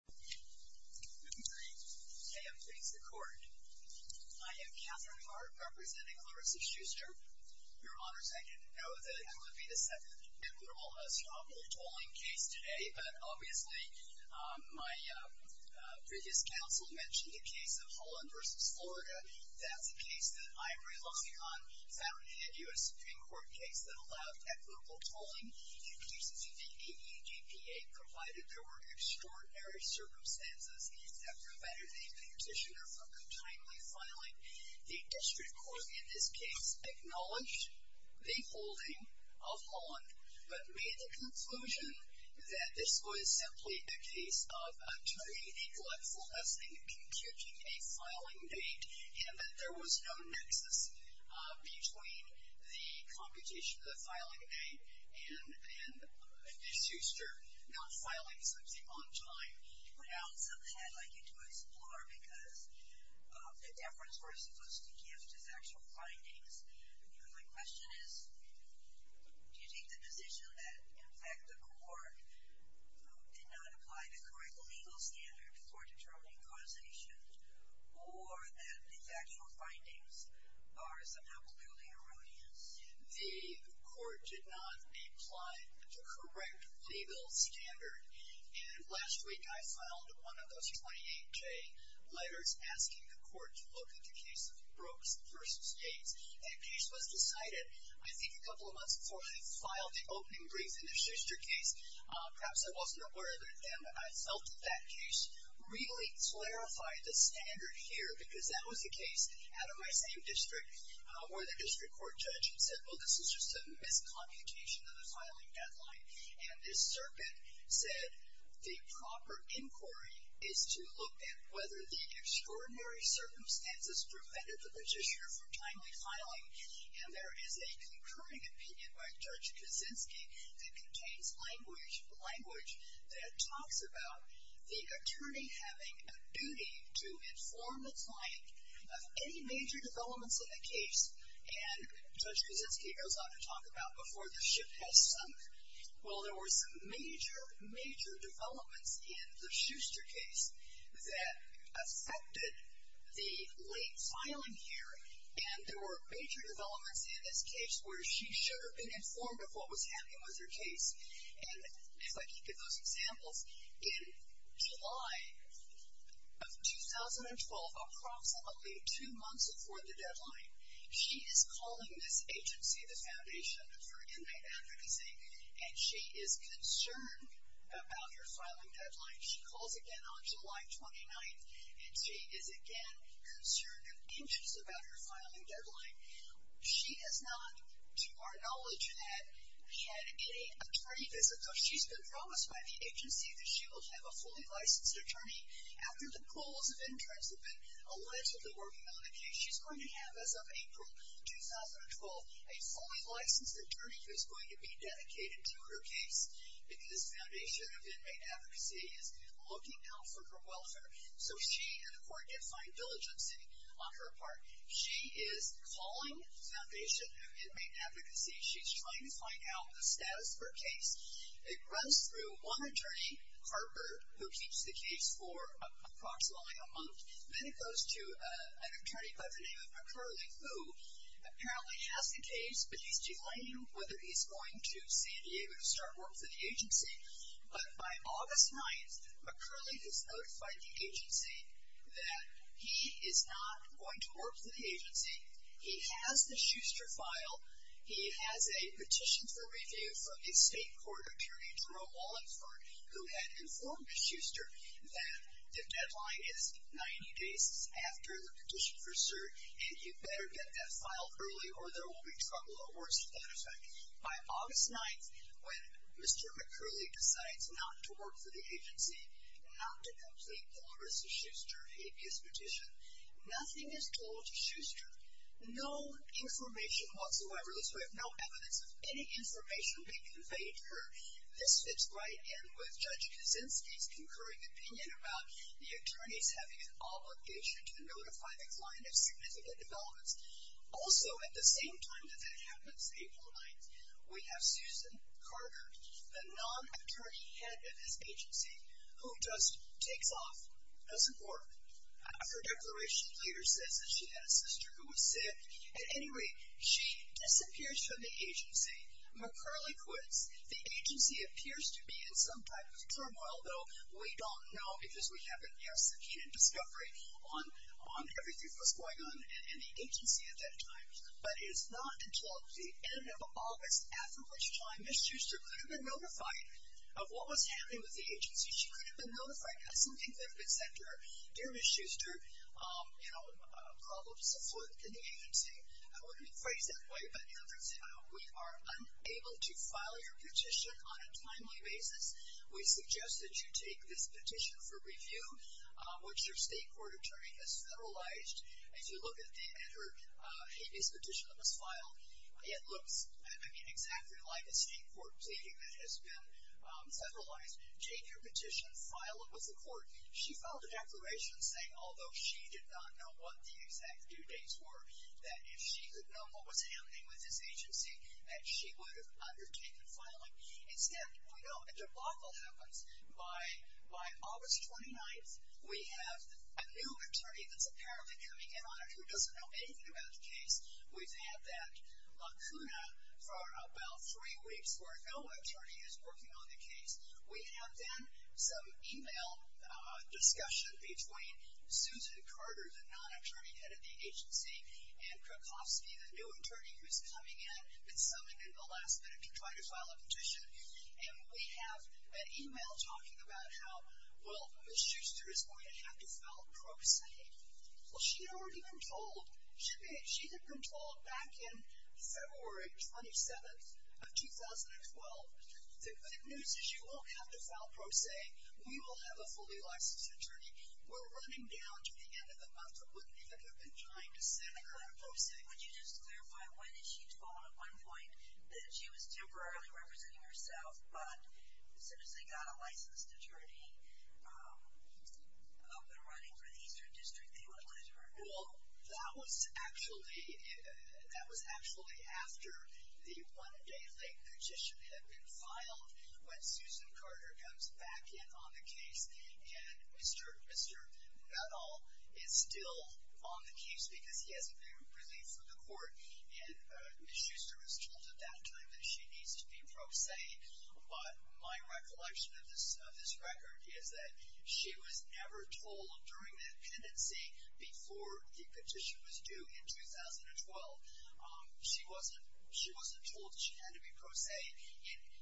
I am Catherine Hart, representing Clarissa Schuster. Your Honors, I didn't know that I would be the second equitable establishment case today, but obviously my previous counsel mentioned the case of Holland v. Florida. That's a case that Ivory Logicon founded, a U.S. Supreme Court case that allowed equitable tolling. In cases in the EU DPA provided there were extraordinary circumstances that prevented the petitioner from continually filing, the district court in this case acknowledged the holding of Holland, but made the conclusion that this was simply a case of attorney neglectful as in computing a filing date, and that there was no nexus between the computation of the filing date and Ms. Schuster not filing something on time. But Alison, I'd like you to explore, because the deference we're supposed to give to the actual findings, my question is, do you take the position that in fact the court did not apply the correct legal standard for determining causation, or that the actual findings are somehow purely erroneous? The court did not apply the correct legal standard. And last week I filed one of those 28-J letters asking the court to look at the case of Brooks v. States. That case was decided I think a couple of months before they filed the opening brief in the Schuster case. Perhaps I wasn't aware of it then, but I felt that that case really clarified the standard here, because that was the case out of my same district where the district court judge said, well, this is just a miscomputation of the filing deadline. And this serpent said the proper inquiry is to look at whether the extraordinary circumstances prevented the petitioner from timely filing. And there is a concurring opinion by Judge Kuczynski that contains language, language that talks about the attorney having a duty to inform the client of any major developments in the case. And Judge Kuczynski goes on to talk about before the ship has sunk, well, there were some major, major developments in the Schuster case that affected the late filing here. And there were major developments in this case where she should have been informed of what was happening with her case. And if I keep those examples, in July of 2012, approximately two months before the deadline, she is calling this agency, the Foundation for Inmate Advocacy, and she is concerned about her filing deadline. She calls again on July 29th, and she is again concerned and anxious about her filing deadline. She has not, to our knowledge, had any attorney visits. So she's been promised by the agency that she will have a fully licensed attorney. After the pools of interest have been allegedly working on the case, she's going to have, as of April 2012, a fully licensed attorney who's going to be dedicated to her case, because Foundation of Inmate Advocacy is looking out for her welfare. So she and the court get fine diligence on her part. She is calling Foundation of Inmate Advocacy. She's trying to find out the status of her case. It runs through one attorney, Harper, who keeps the case for approximately a month. Then it goes to an attorney by the name of McCurley, who apparently has the case, but he's delaying whether he's going to San Diego to start work for the agency. But by August 9th, McCurley has notified the agency that he is not going to work for the agency. He has the Schuster file. He has a petition for review from the state court attorney, Jerome Wallenford, who had informed Schuster that the deadline is 90 days after the petition for cert, and you better get that file early or there will be trouble or worse, as a matter of fact. By August 9th, when Mr. McCurley decides not to work for the agency, not to complete the Larissa Schuster habeas petition, nothing is told to Schuster. No information whatsoever, thus we have no evidence of any information being conveyed to her. This fits right in with Judge Kuczynski's concurring opinion about the attorneys having an obligation to notify the client of significant developments. Also at the same time that that happens, April 9th, we have Susan Carter, the non-attorney head of this agency, who just takes off, doesn't work. Her declaration later says that she had a sister who was sick. At any rate, she disappears from the agency. McCurley quits. The agency appears to be in some type of turmoil, though we don't know because we haven't, you know, succeeded in discovery on everything that was going on in the agency at that time. But it is not until the end of August, after which time, Ms. Schuster could have been notified of what was happening with the agency. She could have been notified of some significance that her dear Ms. Schuster, you know, problems afoot in the agency. I wouldn't phrase it that way, but, you know, for example, we are unable to file your petition on a timely basis. We suggest that you take this petition for review, which your state court attorney has federalized. As you look at it, at this petition that was filed, it looks, I mean, exactly like a state court pleading that has been federalized. Take your petition, file it with the court. She filed a declaration saying, although she did not know what the exact due dates were, that if she could know what was happening with this agency, that she would have undertaken filing. Instead, we know a debacle happens. By August 29th, we have a new attorney that's apparently coming in on it who doesn't know anything about the case. We've had that lacuna for about three weeks where no attorney is working on the case. We have then some e-mail discussion between Susan Carter, the non-attorney head of the agency, and Krakowski, the new attorney who's coming in and summoned in the last minute to try to file a petition. And we have an e-mail talking about how, well, Ms. Schuster is going to have to file pro se. Well, she had already been told. She had been told back in February 27th of 2012, the good news is you won't have to file pro se. We will have a fully licensed attorney. We're running down to the end of the month. We wouldn't even have been trying to send a client pro se. Would you just clarify one issue at one point that she was temporarily representing herself, but as soon as they got a licensed attorney up and running for the Eastern District, they went with her? Well, that was actually after the one day late petition had been filed when Susan Carter comes back in on the case. And Mr. Nadal is still on the case because he hasn't been released from the court. And Ms. Schuster was told at that time that she needs to be pro se. But my recollection of this record is that she was never told during the pendency before the petition was due in 2012. She wasn't told she had to be pro se.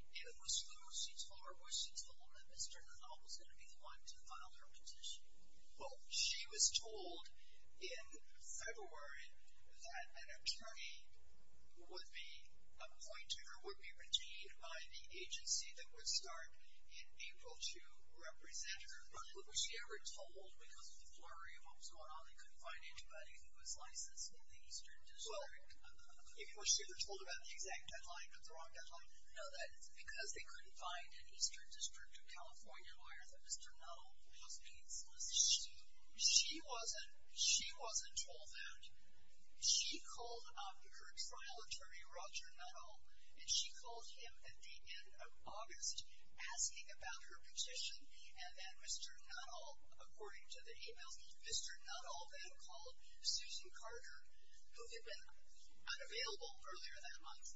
Was she told that Mr. Nadal was going to be the one to file her petition? Well, she was told in February that an attorney would be appointed or would be redeemed by the agency that would start in April to represent her. But was she ever told because of the flurry of what was going on they couldn't find anybody who was licensed in the Eastern District? Was she ever told about the exact deadline or the wrong deadline? No, that it's because they couldn't find an Eastern District of California lawyer that Mr. Nadal was being solicited. She wasn't told that. She called up her trial attorney, Roger Nadal, and she called him at the end of August asking about her petition. And then Mr. Nadal, according to the emails, Mr. Nadal then called Susan Carter, who had been unavailable earlier that month,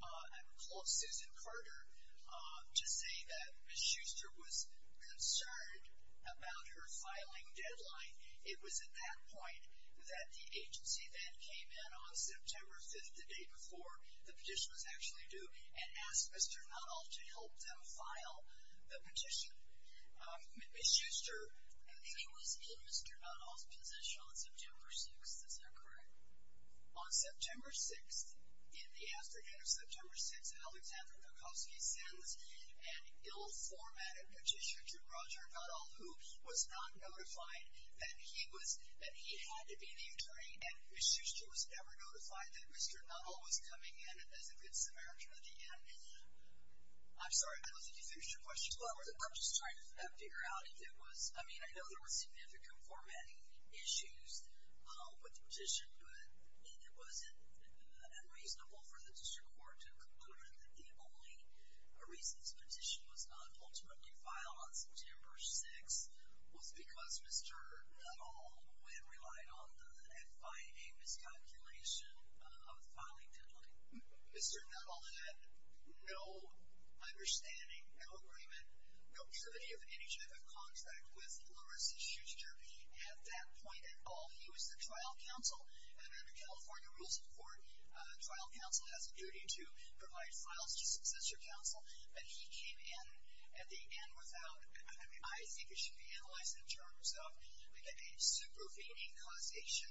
and called Susan Carter to say that Ms. Shuster was concerned about her filing deadline. It was at that point that the agency then came in on September 5th, the day before the petition was actually due, and asked Mr. Nadal to help them file the petition. Ms. Shuster was in Mr. Nadal's position on September 6th. Is that correct? On September 6th, in the afternoon of September 6th, Alexander Kokoski sends an ill-formatted petition to Roger Nadal, who was not notified that he had to be the attorney, and Ms. Shuster was never notified that Mr. Nadal was coming in as a good Samaritan at the end. I'm sorry, I don't think you finished your question. Well, I'm just trying to figure out if there was— I mean, I know there were significant formatting issues, but the petition—was it unreasonable for the district court to conclude that the only reason this petition was not ultimately filed on September 6th was because Mr. Nadal had relied on the FIA miscalculation of the filing deadline? Mr. Nadal had no understanding, no agreement, no privity of any type of contract with Larissa Shuster. At that point at all, he was the trial counsel, and under California Rules of Court, trial counsel has a duty to provide files to successor counsel, but he came in at the end without— I think it should be analyzed in terms of a supervening causation.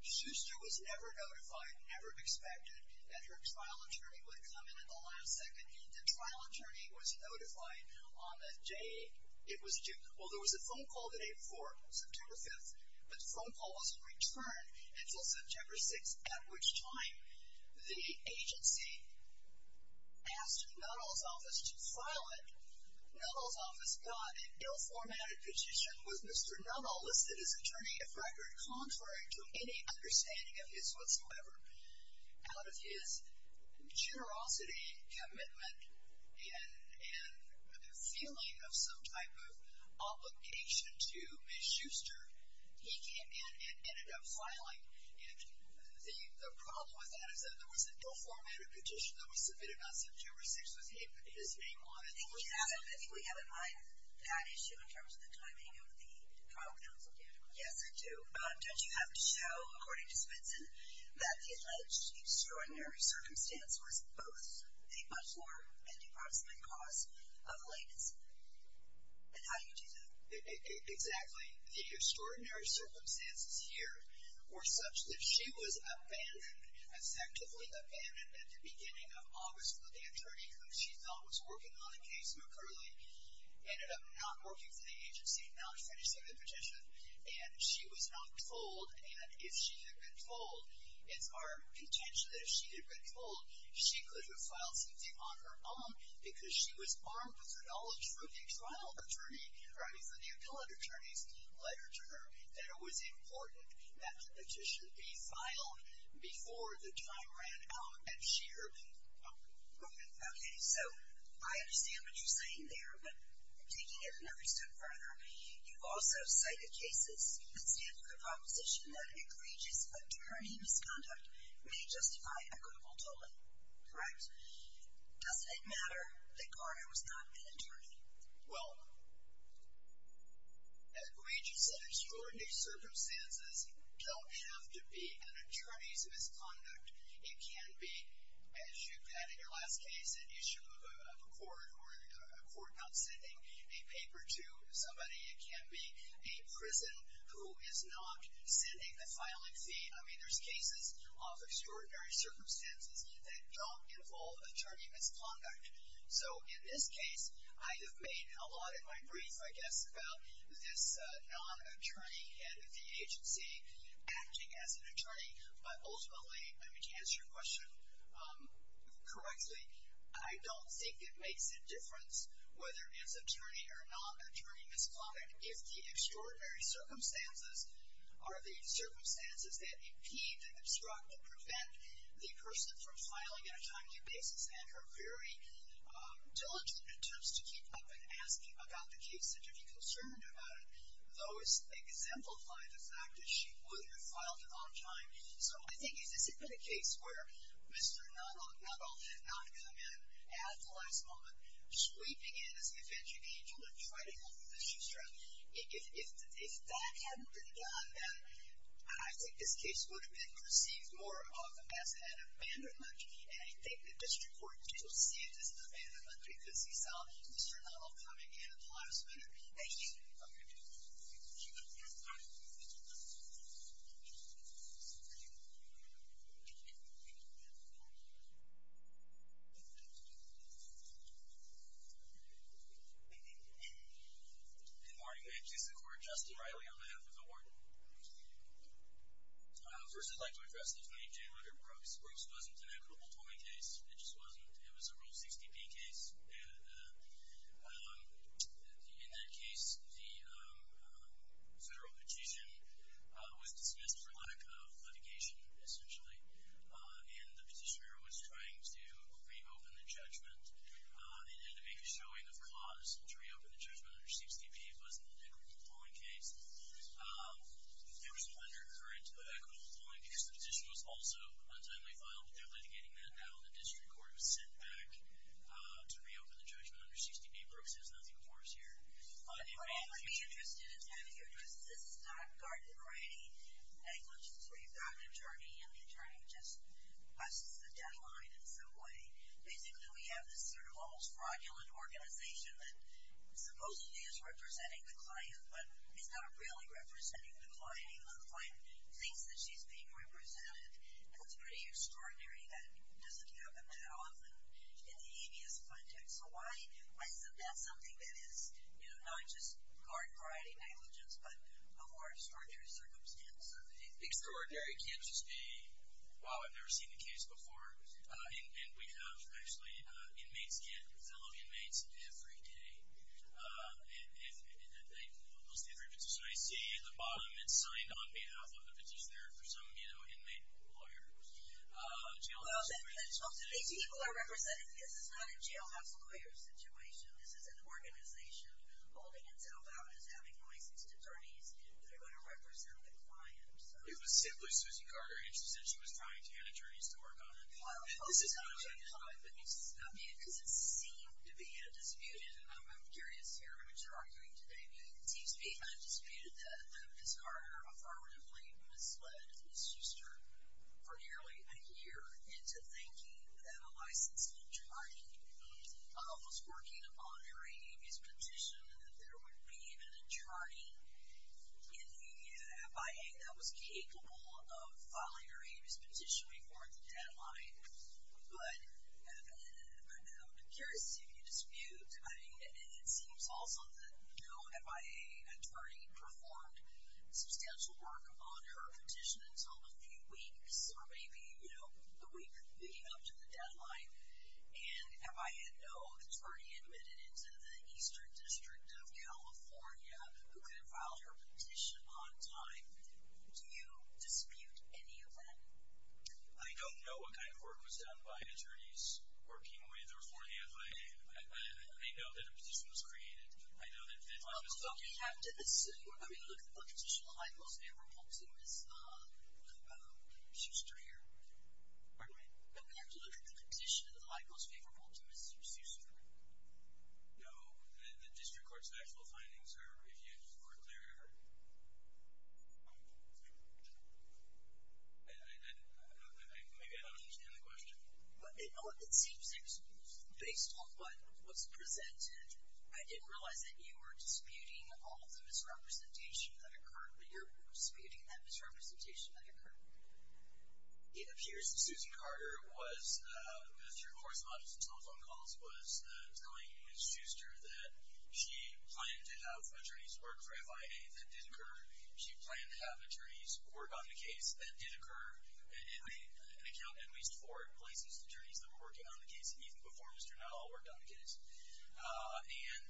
Shuster was never notified, never expected, that her trial attorney would come in at the last second. The trial attorney was notified on the day it was due. Well, there was a phone call the day before, September 5th, but the phone call wasn't returned until September 6th, at which time the agency asked Nadal's office to file it. Nadal's office got an ill-formatted petition with Mr. Nadal listed as attorney of record, contrary to any understanding of his whatsoever, out of his generosity, commitment, and feeling of some type of obligation to Ms. Shuster. He came in and ended up filing, and the problem with that is that there was an ill-formatted petition that was submitted on September 6th with his name on it. I think we have in mind that issue in terms of the timing of the trial counsel deadline. Yes, I do. But don't you have to show, according to Smithson, that the alleged extraordinary circumstance was both a but-for and a possibly-cause of latency? And how do you do that? Exactly. The extraordinary circumstances here were such that she was abandoned, effectively abandoned at the beginning of August, but the attorney who she thought was working on the case, McCurley, ended up not working for the agency, not finishing the petition, and she was not told. And if she had been told, it's our contention that if she had been told, she could have filed something on her own, because she was armed with the knowledge from the trial attorney, or I mean from the appellate attorneys, letter to her, that it was important that the petition be filed before the time ran out, and she earned it. Okay, so I understand what you're saying there, but taking it another step further, you've also cited cases that stand for the proposition that egregious attorney misconduct may justify equitable tolling, correct? Doesn't it matter that Garner was not an attorney? Well, egregious and extraordinary circumstances don't have to be an attorney's misconduct. It can be, as you've had in your last case, an issue of a court or a court not sending a paper to somebody. It can be a prison who is not sending the filing fee. I mean, there's cases of extraordinary circumstances that don't involve attorney misconduct. So in this case, I have made a lot in my brief, I guess, about this non-attorney head of the agency acting as an attorney, but ultimately, I mean, to answer your question correctly, I don't think it makes a difference whether it's attorney or non-attorney misconduct if the extraordinary circumstances are the circumstances that impede, that obstruct, and prevent the person from filing on a timely basis. And her very diligent attempts to keep up in asking about the case and to be concerned about it, those exemplify the fact that she would have filed it on time. So I think if this had been a case where Mr. Nuttall had not come in at the last moment, sweeping in as an avenging angel to try to help the district, if that hadn't been done, then I think this case would have been perceived more of as an abandonment. And I think the district court did not see it as an abandonment because he saw Mr. Nuttall coming in at the last minute. Thank you. Okay. Good morning. My name is Justin Riley, on behalf of the warden. First, I'd like to address the 28 January approach. This wasn't an equitable toiling case. It just wasn't. It was a Rule 60B case. In that case, the federal petition was dismissed for lack of litigation, essentially, and the petitioner was trying to reopen the judgment. They had to make a showing of cause to reopen the judgment under 60B. It wasn't an equitable toiling case. There was an undercurrent of equitable toiling because the petition was also untimely filed. They're litigating that now. The district court was sent back to reopen the judgment under 60B. Brooks has nothing more to share. What I'd be interested in having you address is this is not Garden Ready, which is where you've got an attorney, and the attorney just busts the deadline in some way. Basically, we have this sort of almost fraudulent organization that supposedly is representing the client, but is not really representing the client. The client thinks that she's being represented, and it's pretty extraordinary that it doesn't happen that often in the ABS context. So why is that something that is not just Garden Ready negligence but a more extraordinary circumstance? Extraordinary can't just be, wow, I've never seen a case before, and we have actually inmates get fellow inmates every day, and most of the inferences that I see at the bottom, it's signed on behalf of the petitioner for some inmate lawyer. Most of these people are represented. This is not a jailhouse lawyer situation. This is an organization holding itself out as having licensed attorneys that are going to represent the client. It was simply Susie Carter. She said she was trying to get attorneys to work on it. This is not a jailhouse. I mean, because it seemed to be undisputed, and I'm curious to hear what you're arguing today. It seems to be undisputed that Ms. Carter affirmatively misled Ms. Shuster for nearly a year into thinking that a licensed attorney was working on her ABS petition and that there would be an attorney in the FIA that was capable of filing her ABS petition before the deadline. But I'm curious to see if you dispute. I mean, it seems also that no FIA attorney performed substantial work on her petition until a few weeks or maybe a week leading up to the deadline, and FIA, no attorney admitted into the Eastern District of California who could have filed her petition on time. Do you dispute any of that? I don't know what kind of work was done by attorneys working with or for the FIA. I know that a petition was created. I know that deadline was filed. So do you have to assume, I mean, look at the petition of the client most favorable to Ms. Shuster here? Pardon me? Do we have to look at the petition of the client most favorable to Ms. Shuster? No. The district court's actual findings are clear. I don't know. Maybe I don't understand the question. It seems based on what was presented, I didn't realize that you were disputing all of the misrepresentation that occurred, but you're disputing that misrepresentation that occurred. It appears that Susan Carter was, as your correspondence and telephone calls was telling Ms. Shuster that she planned to have attorneys work for FIA that did occur. She planned to have attorneys work on the case that did occur, and accounted at least for places attorneys that were working on the case, even before Mr. Nuttall worked on the case. And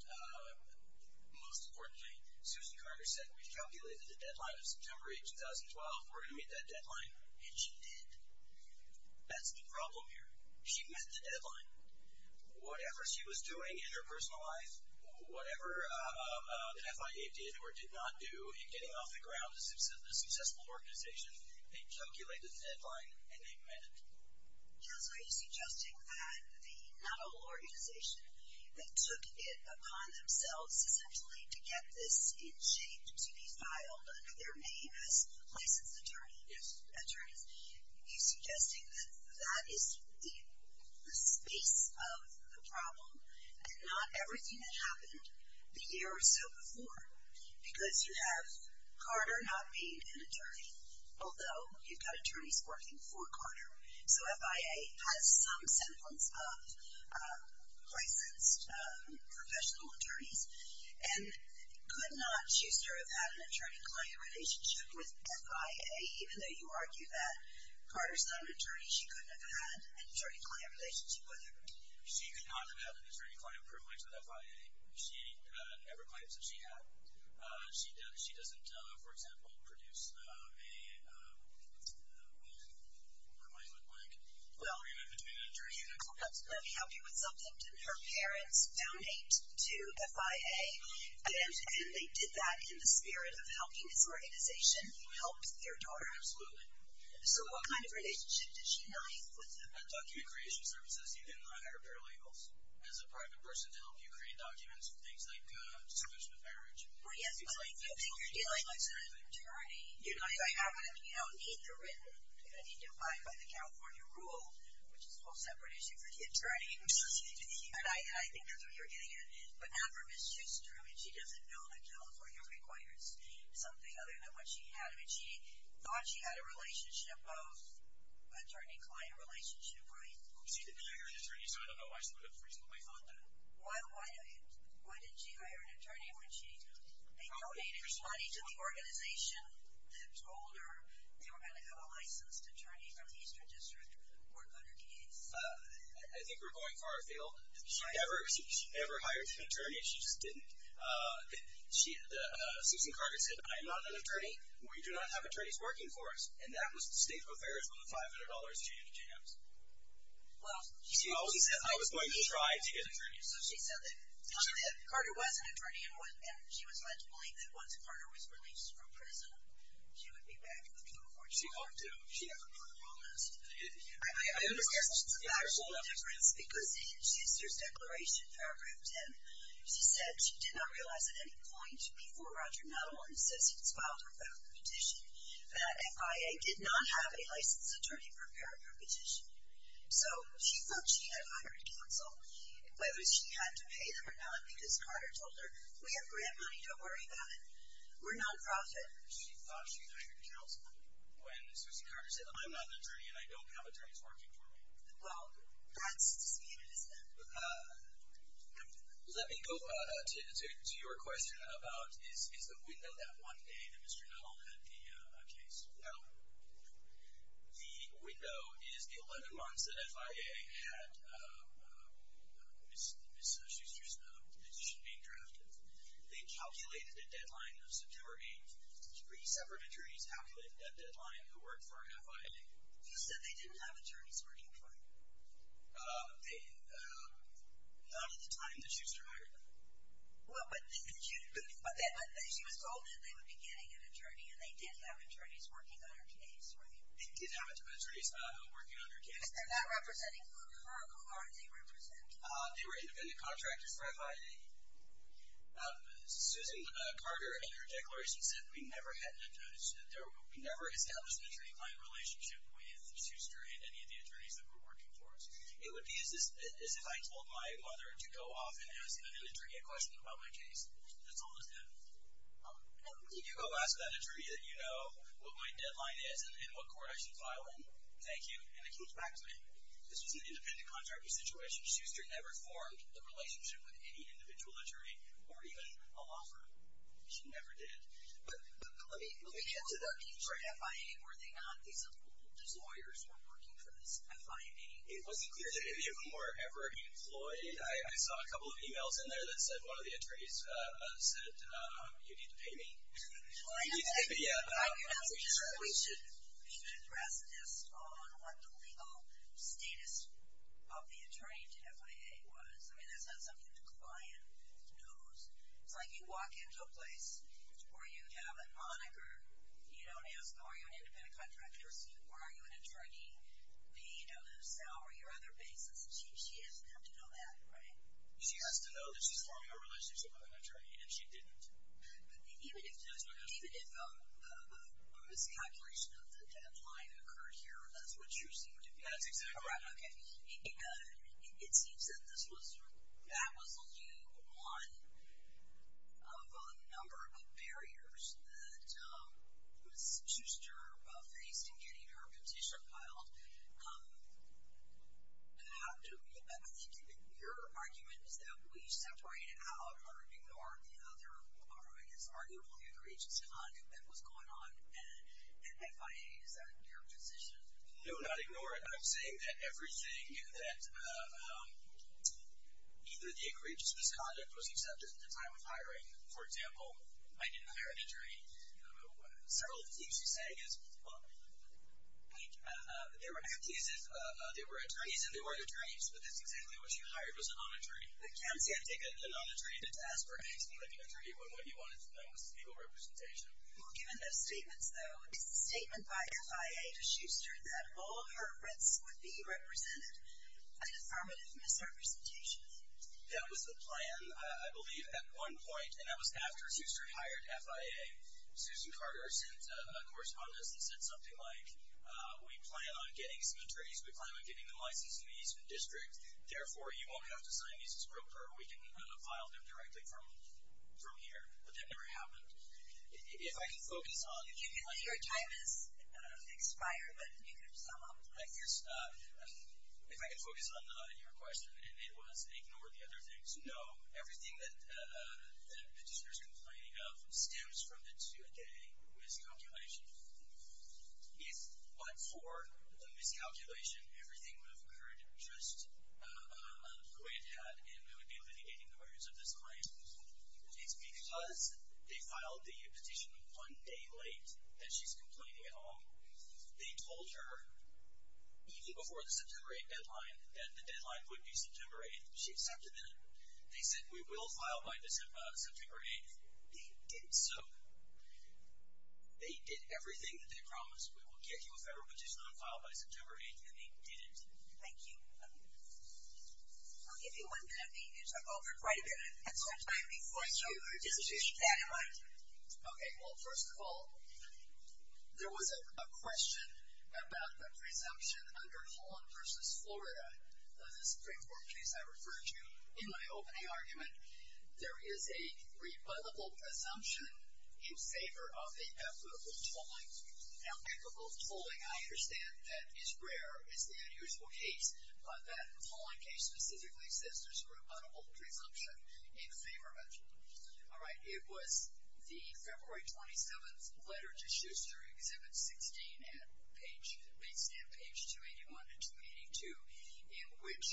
most importantly, Susan Carter said we've calculated the deadline of September 8, 2012. We're going to meet that deadline, and she did. That's the problem here. She met the deadline. Whatever she was doing in her personal life, whatever the FIA did or did not do in getting off the ground a successful organization, they calculated the deadline, and they met it. So are you suggesting that the Nuttall organization that took it upon themselves, essentially, to get this in shape to be filed under their name as licensed attorneys, are you suggesting that that is the space of the problem, and not everything that happened the year or so before, because you have Carter not being an attorney, although you've got attorneys working for Carter. So FIA has some semblance of licensed professional attorneys, and could not, Shuster, have had an attorney-client relationship with FIA, even though you argue that Carter's not an attorney. She could not have had an attorney-client privilege with FIA. She never claims that she had. She doesn't, for example, produce a, what might look like, agreement between attorneys. Let me help you with something. Did her parents donate to FIA, and they did that in the spirit of helping this organization help their daughter? Absolutely. So what kind of relationship did she have with them? At Document Creation Services, you can hire paralegals as a private person to help you create documents for things like disclosure of marriage. Well, yes, but I don't think you're dealing with an attorney. You don't need to abide by the California rule, which is a whole separate issue for the attorney. And I think that's what you're getting at. But not for Ms. Shuster. I mean, she doesn't know that California requires something other than what she had. I mean, she thought she had a relationship, both attorney-client relationship, right? She didn't hire an attorney, so I don't know why she would have reasonably thought that. Why didn't she hire an attorney when she donated money to the organization that told her they were going to have a licensed attorney from the Eastern District work on her case? I think we're going far afield. She never hired an attorney. She just didn't. Susan Carter said, I am not an attorney. We do not have attorneys working for us. And that was the state of affairs on the $500 change, James. She always said, I was going to try to get an attorney. So she said that Carter wasn't an attorney and she was led to believe that once Carter was released from prison, she would be back in the courtroom. She hoped to. She never promised. I understand. Because in Schuster's declaration, paragraph 10, she said she did not realize at any point before Roger Nuttall and his assistants filed her federal petition that FIA did not have a licensed attorney prepared for her petition. So she thought she had hired counsel, whether she had to pay them or not, because Carter told her, we have grant money. Don't worry about it. We're nonprofit. She thought she hired counsel when Susan Carter said, I'm not an attorney and I don't have attorneys working for me. Well, that's the statement, isn't it? Let me go to your question about is the window that one day that Mr. Nuttall had the case. Well, the window is the 11 months that FIA had Ms. Schuster's petition being drafted. They calculated a deadline of September 8th. Three separate attorneys calculated that deadline who worked for FIA. She said they didn't have attorneys working for her. Not at the time that Schuster hired them. Well, but she was told that they would be getting an attorney, and they did have attorneys working on her case, right? They did have attorneys working on her case. If they're not representing her, who are they representing? They were independent contractors for FIA. Susan Carter, in her declaration, said, we never established an attorney-client relationship with Schuster and any of the attorneys that were working for us. It would be as if I told my mother to go off and ask an attorney a question about my case. That's almost it. You go ask that attorney that you know what my deadline is and what court I should file in. Thank you. And it keeps back to me. This was an independent contractor situation. Schuster never formed a relationship with any individual attorney or even a law firm. She never did. But let me get to the future FIA. Were they not these old lawyers who were working for this FIA? It wasn't clear to me who were ever employed. I saw a couple of e-mails in there that said one of the attorneys said, you need to pay me. You need to pay me, yeah. We should address this on what the legal status of the attorney to FIA was. I mean, that's not something the client knows. It's like you walk into a place where you have a moniker. You don't ask, are you an independent contractor? Are you an attorney? Do you have a salary or other basis? She doesn't have to know that, right? She has to know that she's forming a relationship with an attorney, and she didn't. Even if a miscalculation of the deadline occurred here, that's what Schuster did. That's exactly right. Okay. It seems that this was, that was a new one of a number of barriers that Ms. Schuster faced in getting her petition filed. I think your argument is that we separated out or ignored the other argument. It's arguable the egregious conduct that was going on at FIA. Is that your position? No, not ignore it. I'm saying that everything that, either the egregious misconduct was accepted at the time of hiring. For example, I didn't hire an attorney. Several of the things you say is, well, they were acting as if they were attorneys and they weren't attorneys, but that's exactly what you hired was a non-attorney. You can't take a non-attorney to task for anything like an attorney when what you wanted to know was legal representation. Well, given those statements, though, is the statement by FIA to Schuster that all of her rents would be represented a deformative misrepresentation? That was the plan, I believe, at one point, and that was after Schuster hired FIA. Susan Carter sent a correspondence that said something like, we plan on getting some attorneys. We plan on getting them licensed in the Eastman District. Therefore, you won't have to sign me as a spoker. We can file them directly from here. But that never happened. If I can focus on... Your time has expired, but you can sum up. Thank you. If I can focus on your question, and it was ignore the other things. No, everything that the petitioner is complaining of stems from the 2-a-day miscalculation. But for the miscalculation, everything would have occurred just the way it had, and we would be litigating the murders of this client. It's because they filed the petition one day late that she's complaining at all. They told her even before the September 8th deadline that the deadline would be September 8th. She accepted it. They said, we will file by September 8th. They did so. They did everything that they promised. We will get you a federal petition on file by September 8th, and they didn't. Thank you. I'll give you one minute. The meetings are over in quite a bit. At some point, we will force you to dissuade that amount. Okay, well, first of all, there was a question about the presumption under Holland v. Florida of the Supreme Court case I referred to in my opening argument. There is a rebuttable presumption in favor of the applicable tolling. Now, applicable tolling, I understand, that is rare. It's an unusual case. But that Holland case specifically says there's a rebuttable presumption in favor of it. All right. It was the February 27th letter to Schuster, Exhibit 16, based on page 281 and 282, in which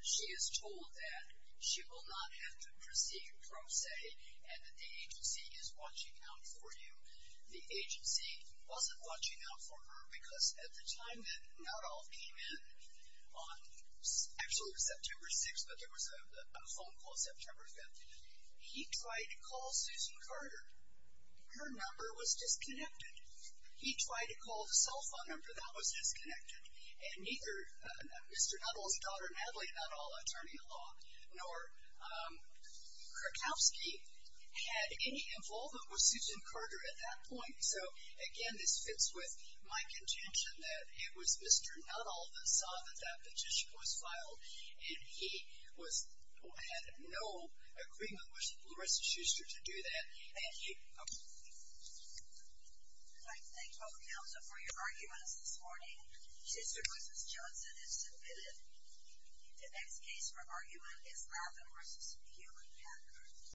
she is told that she will not have to proceed, pro se, and that the agency is watching out for you. The agency wasn't watching out for her because at the time that Nadol came in, on actually September 6th, but there was a phone call September 5th, he tried to call Susan Carter. Her number was disconnected. He tried to call the cell phone number. That was disconnected. And neither Mr. Nadol's daughter, Natalie Nadol, attorney at law, nor Krakowski had any involvement with Susan Carter at that point. So, again, this fits with my contention that it was Mr. Nadol that saw that that petition was filed, and he had no agreement with the rest of Schuster to do that. Thank you. Okay. All right. Thank you all for your arguments this morning. Schuster v. Johnson is submitted. The next case for argument is Latham v. Hewlett-Packard.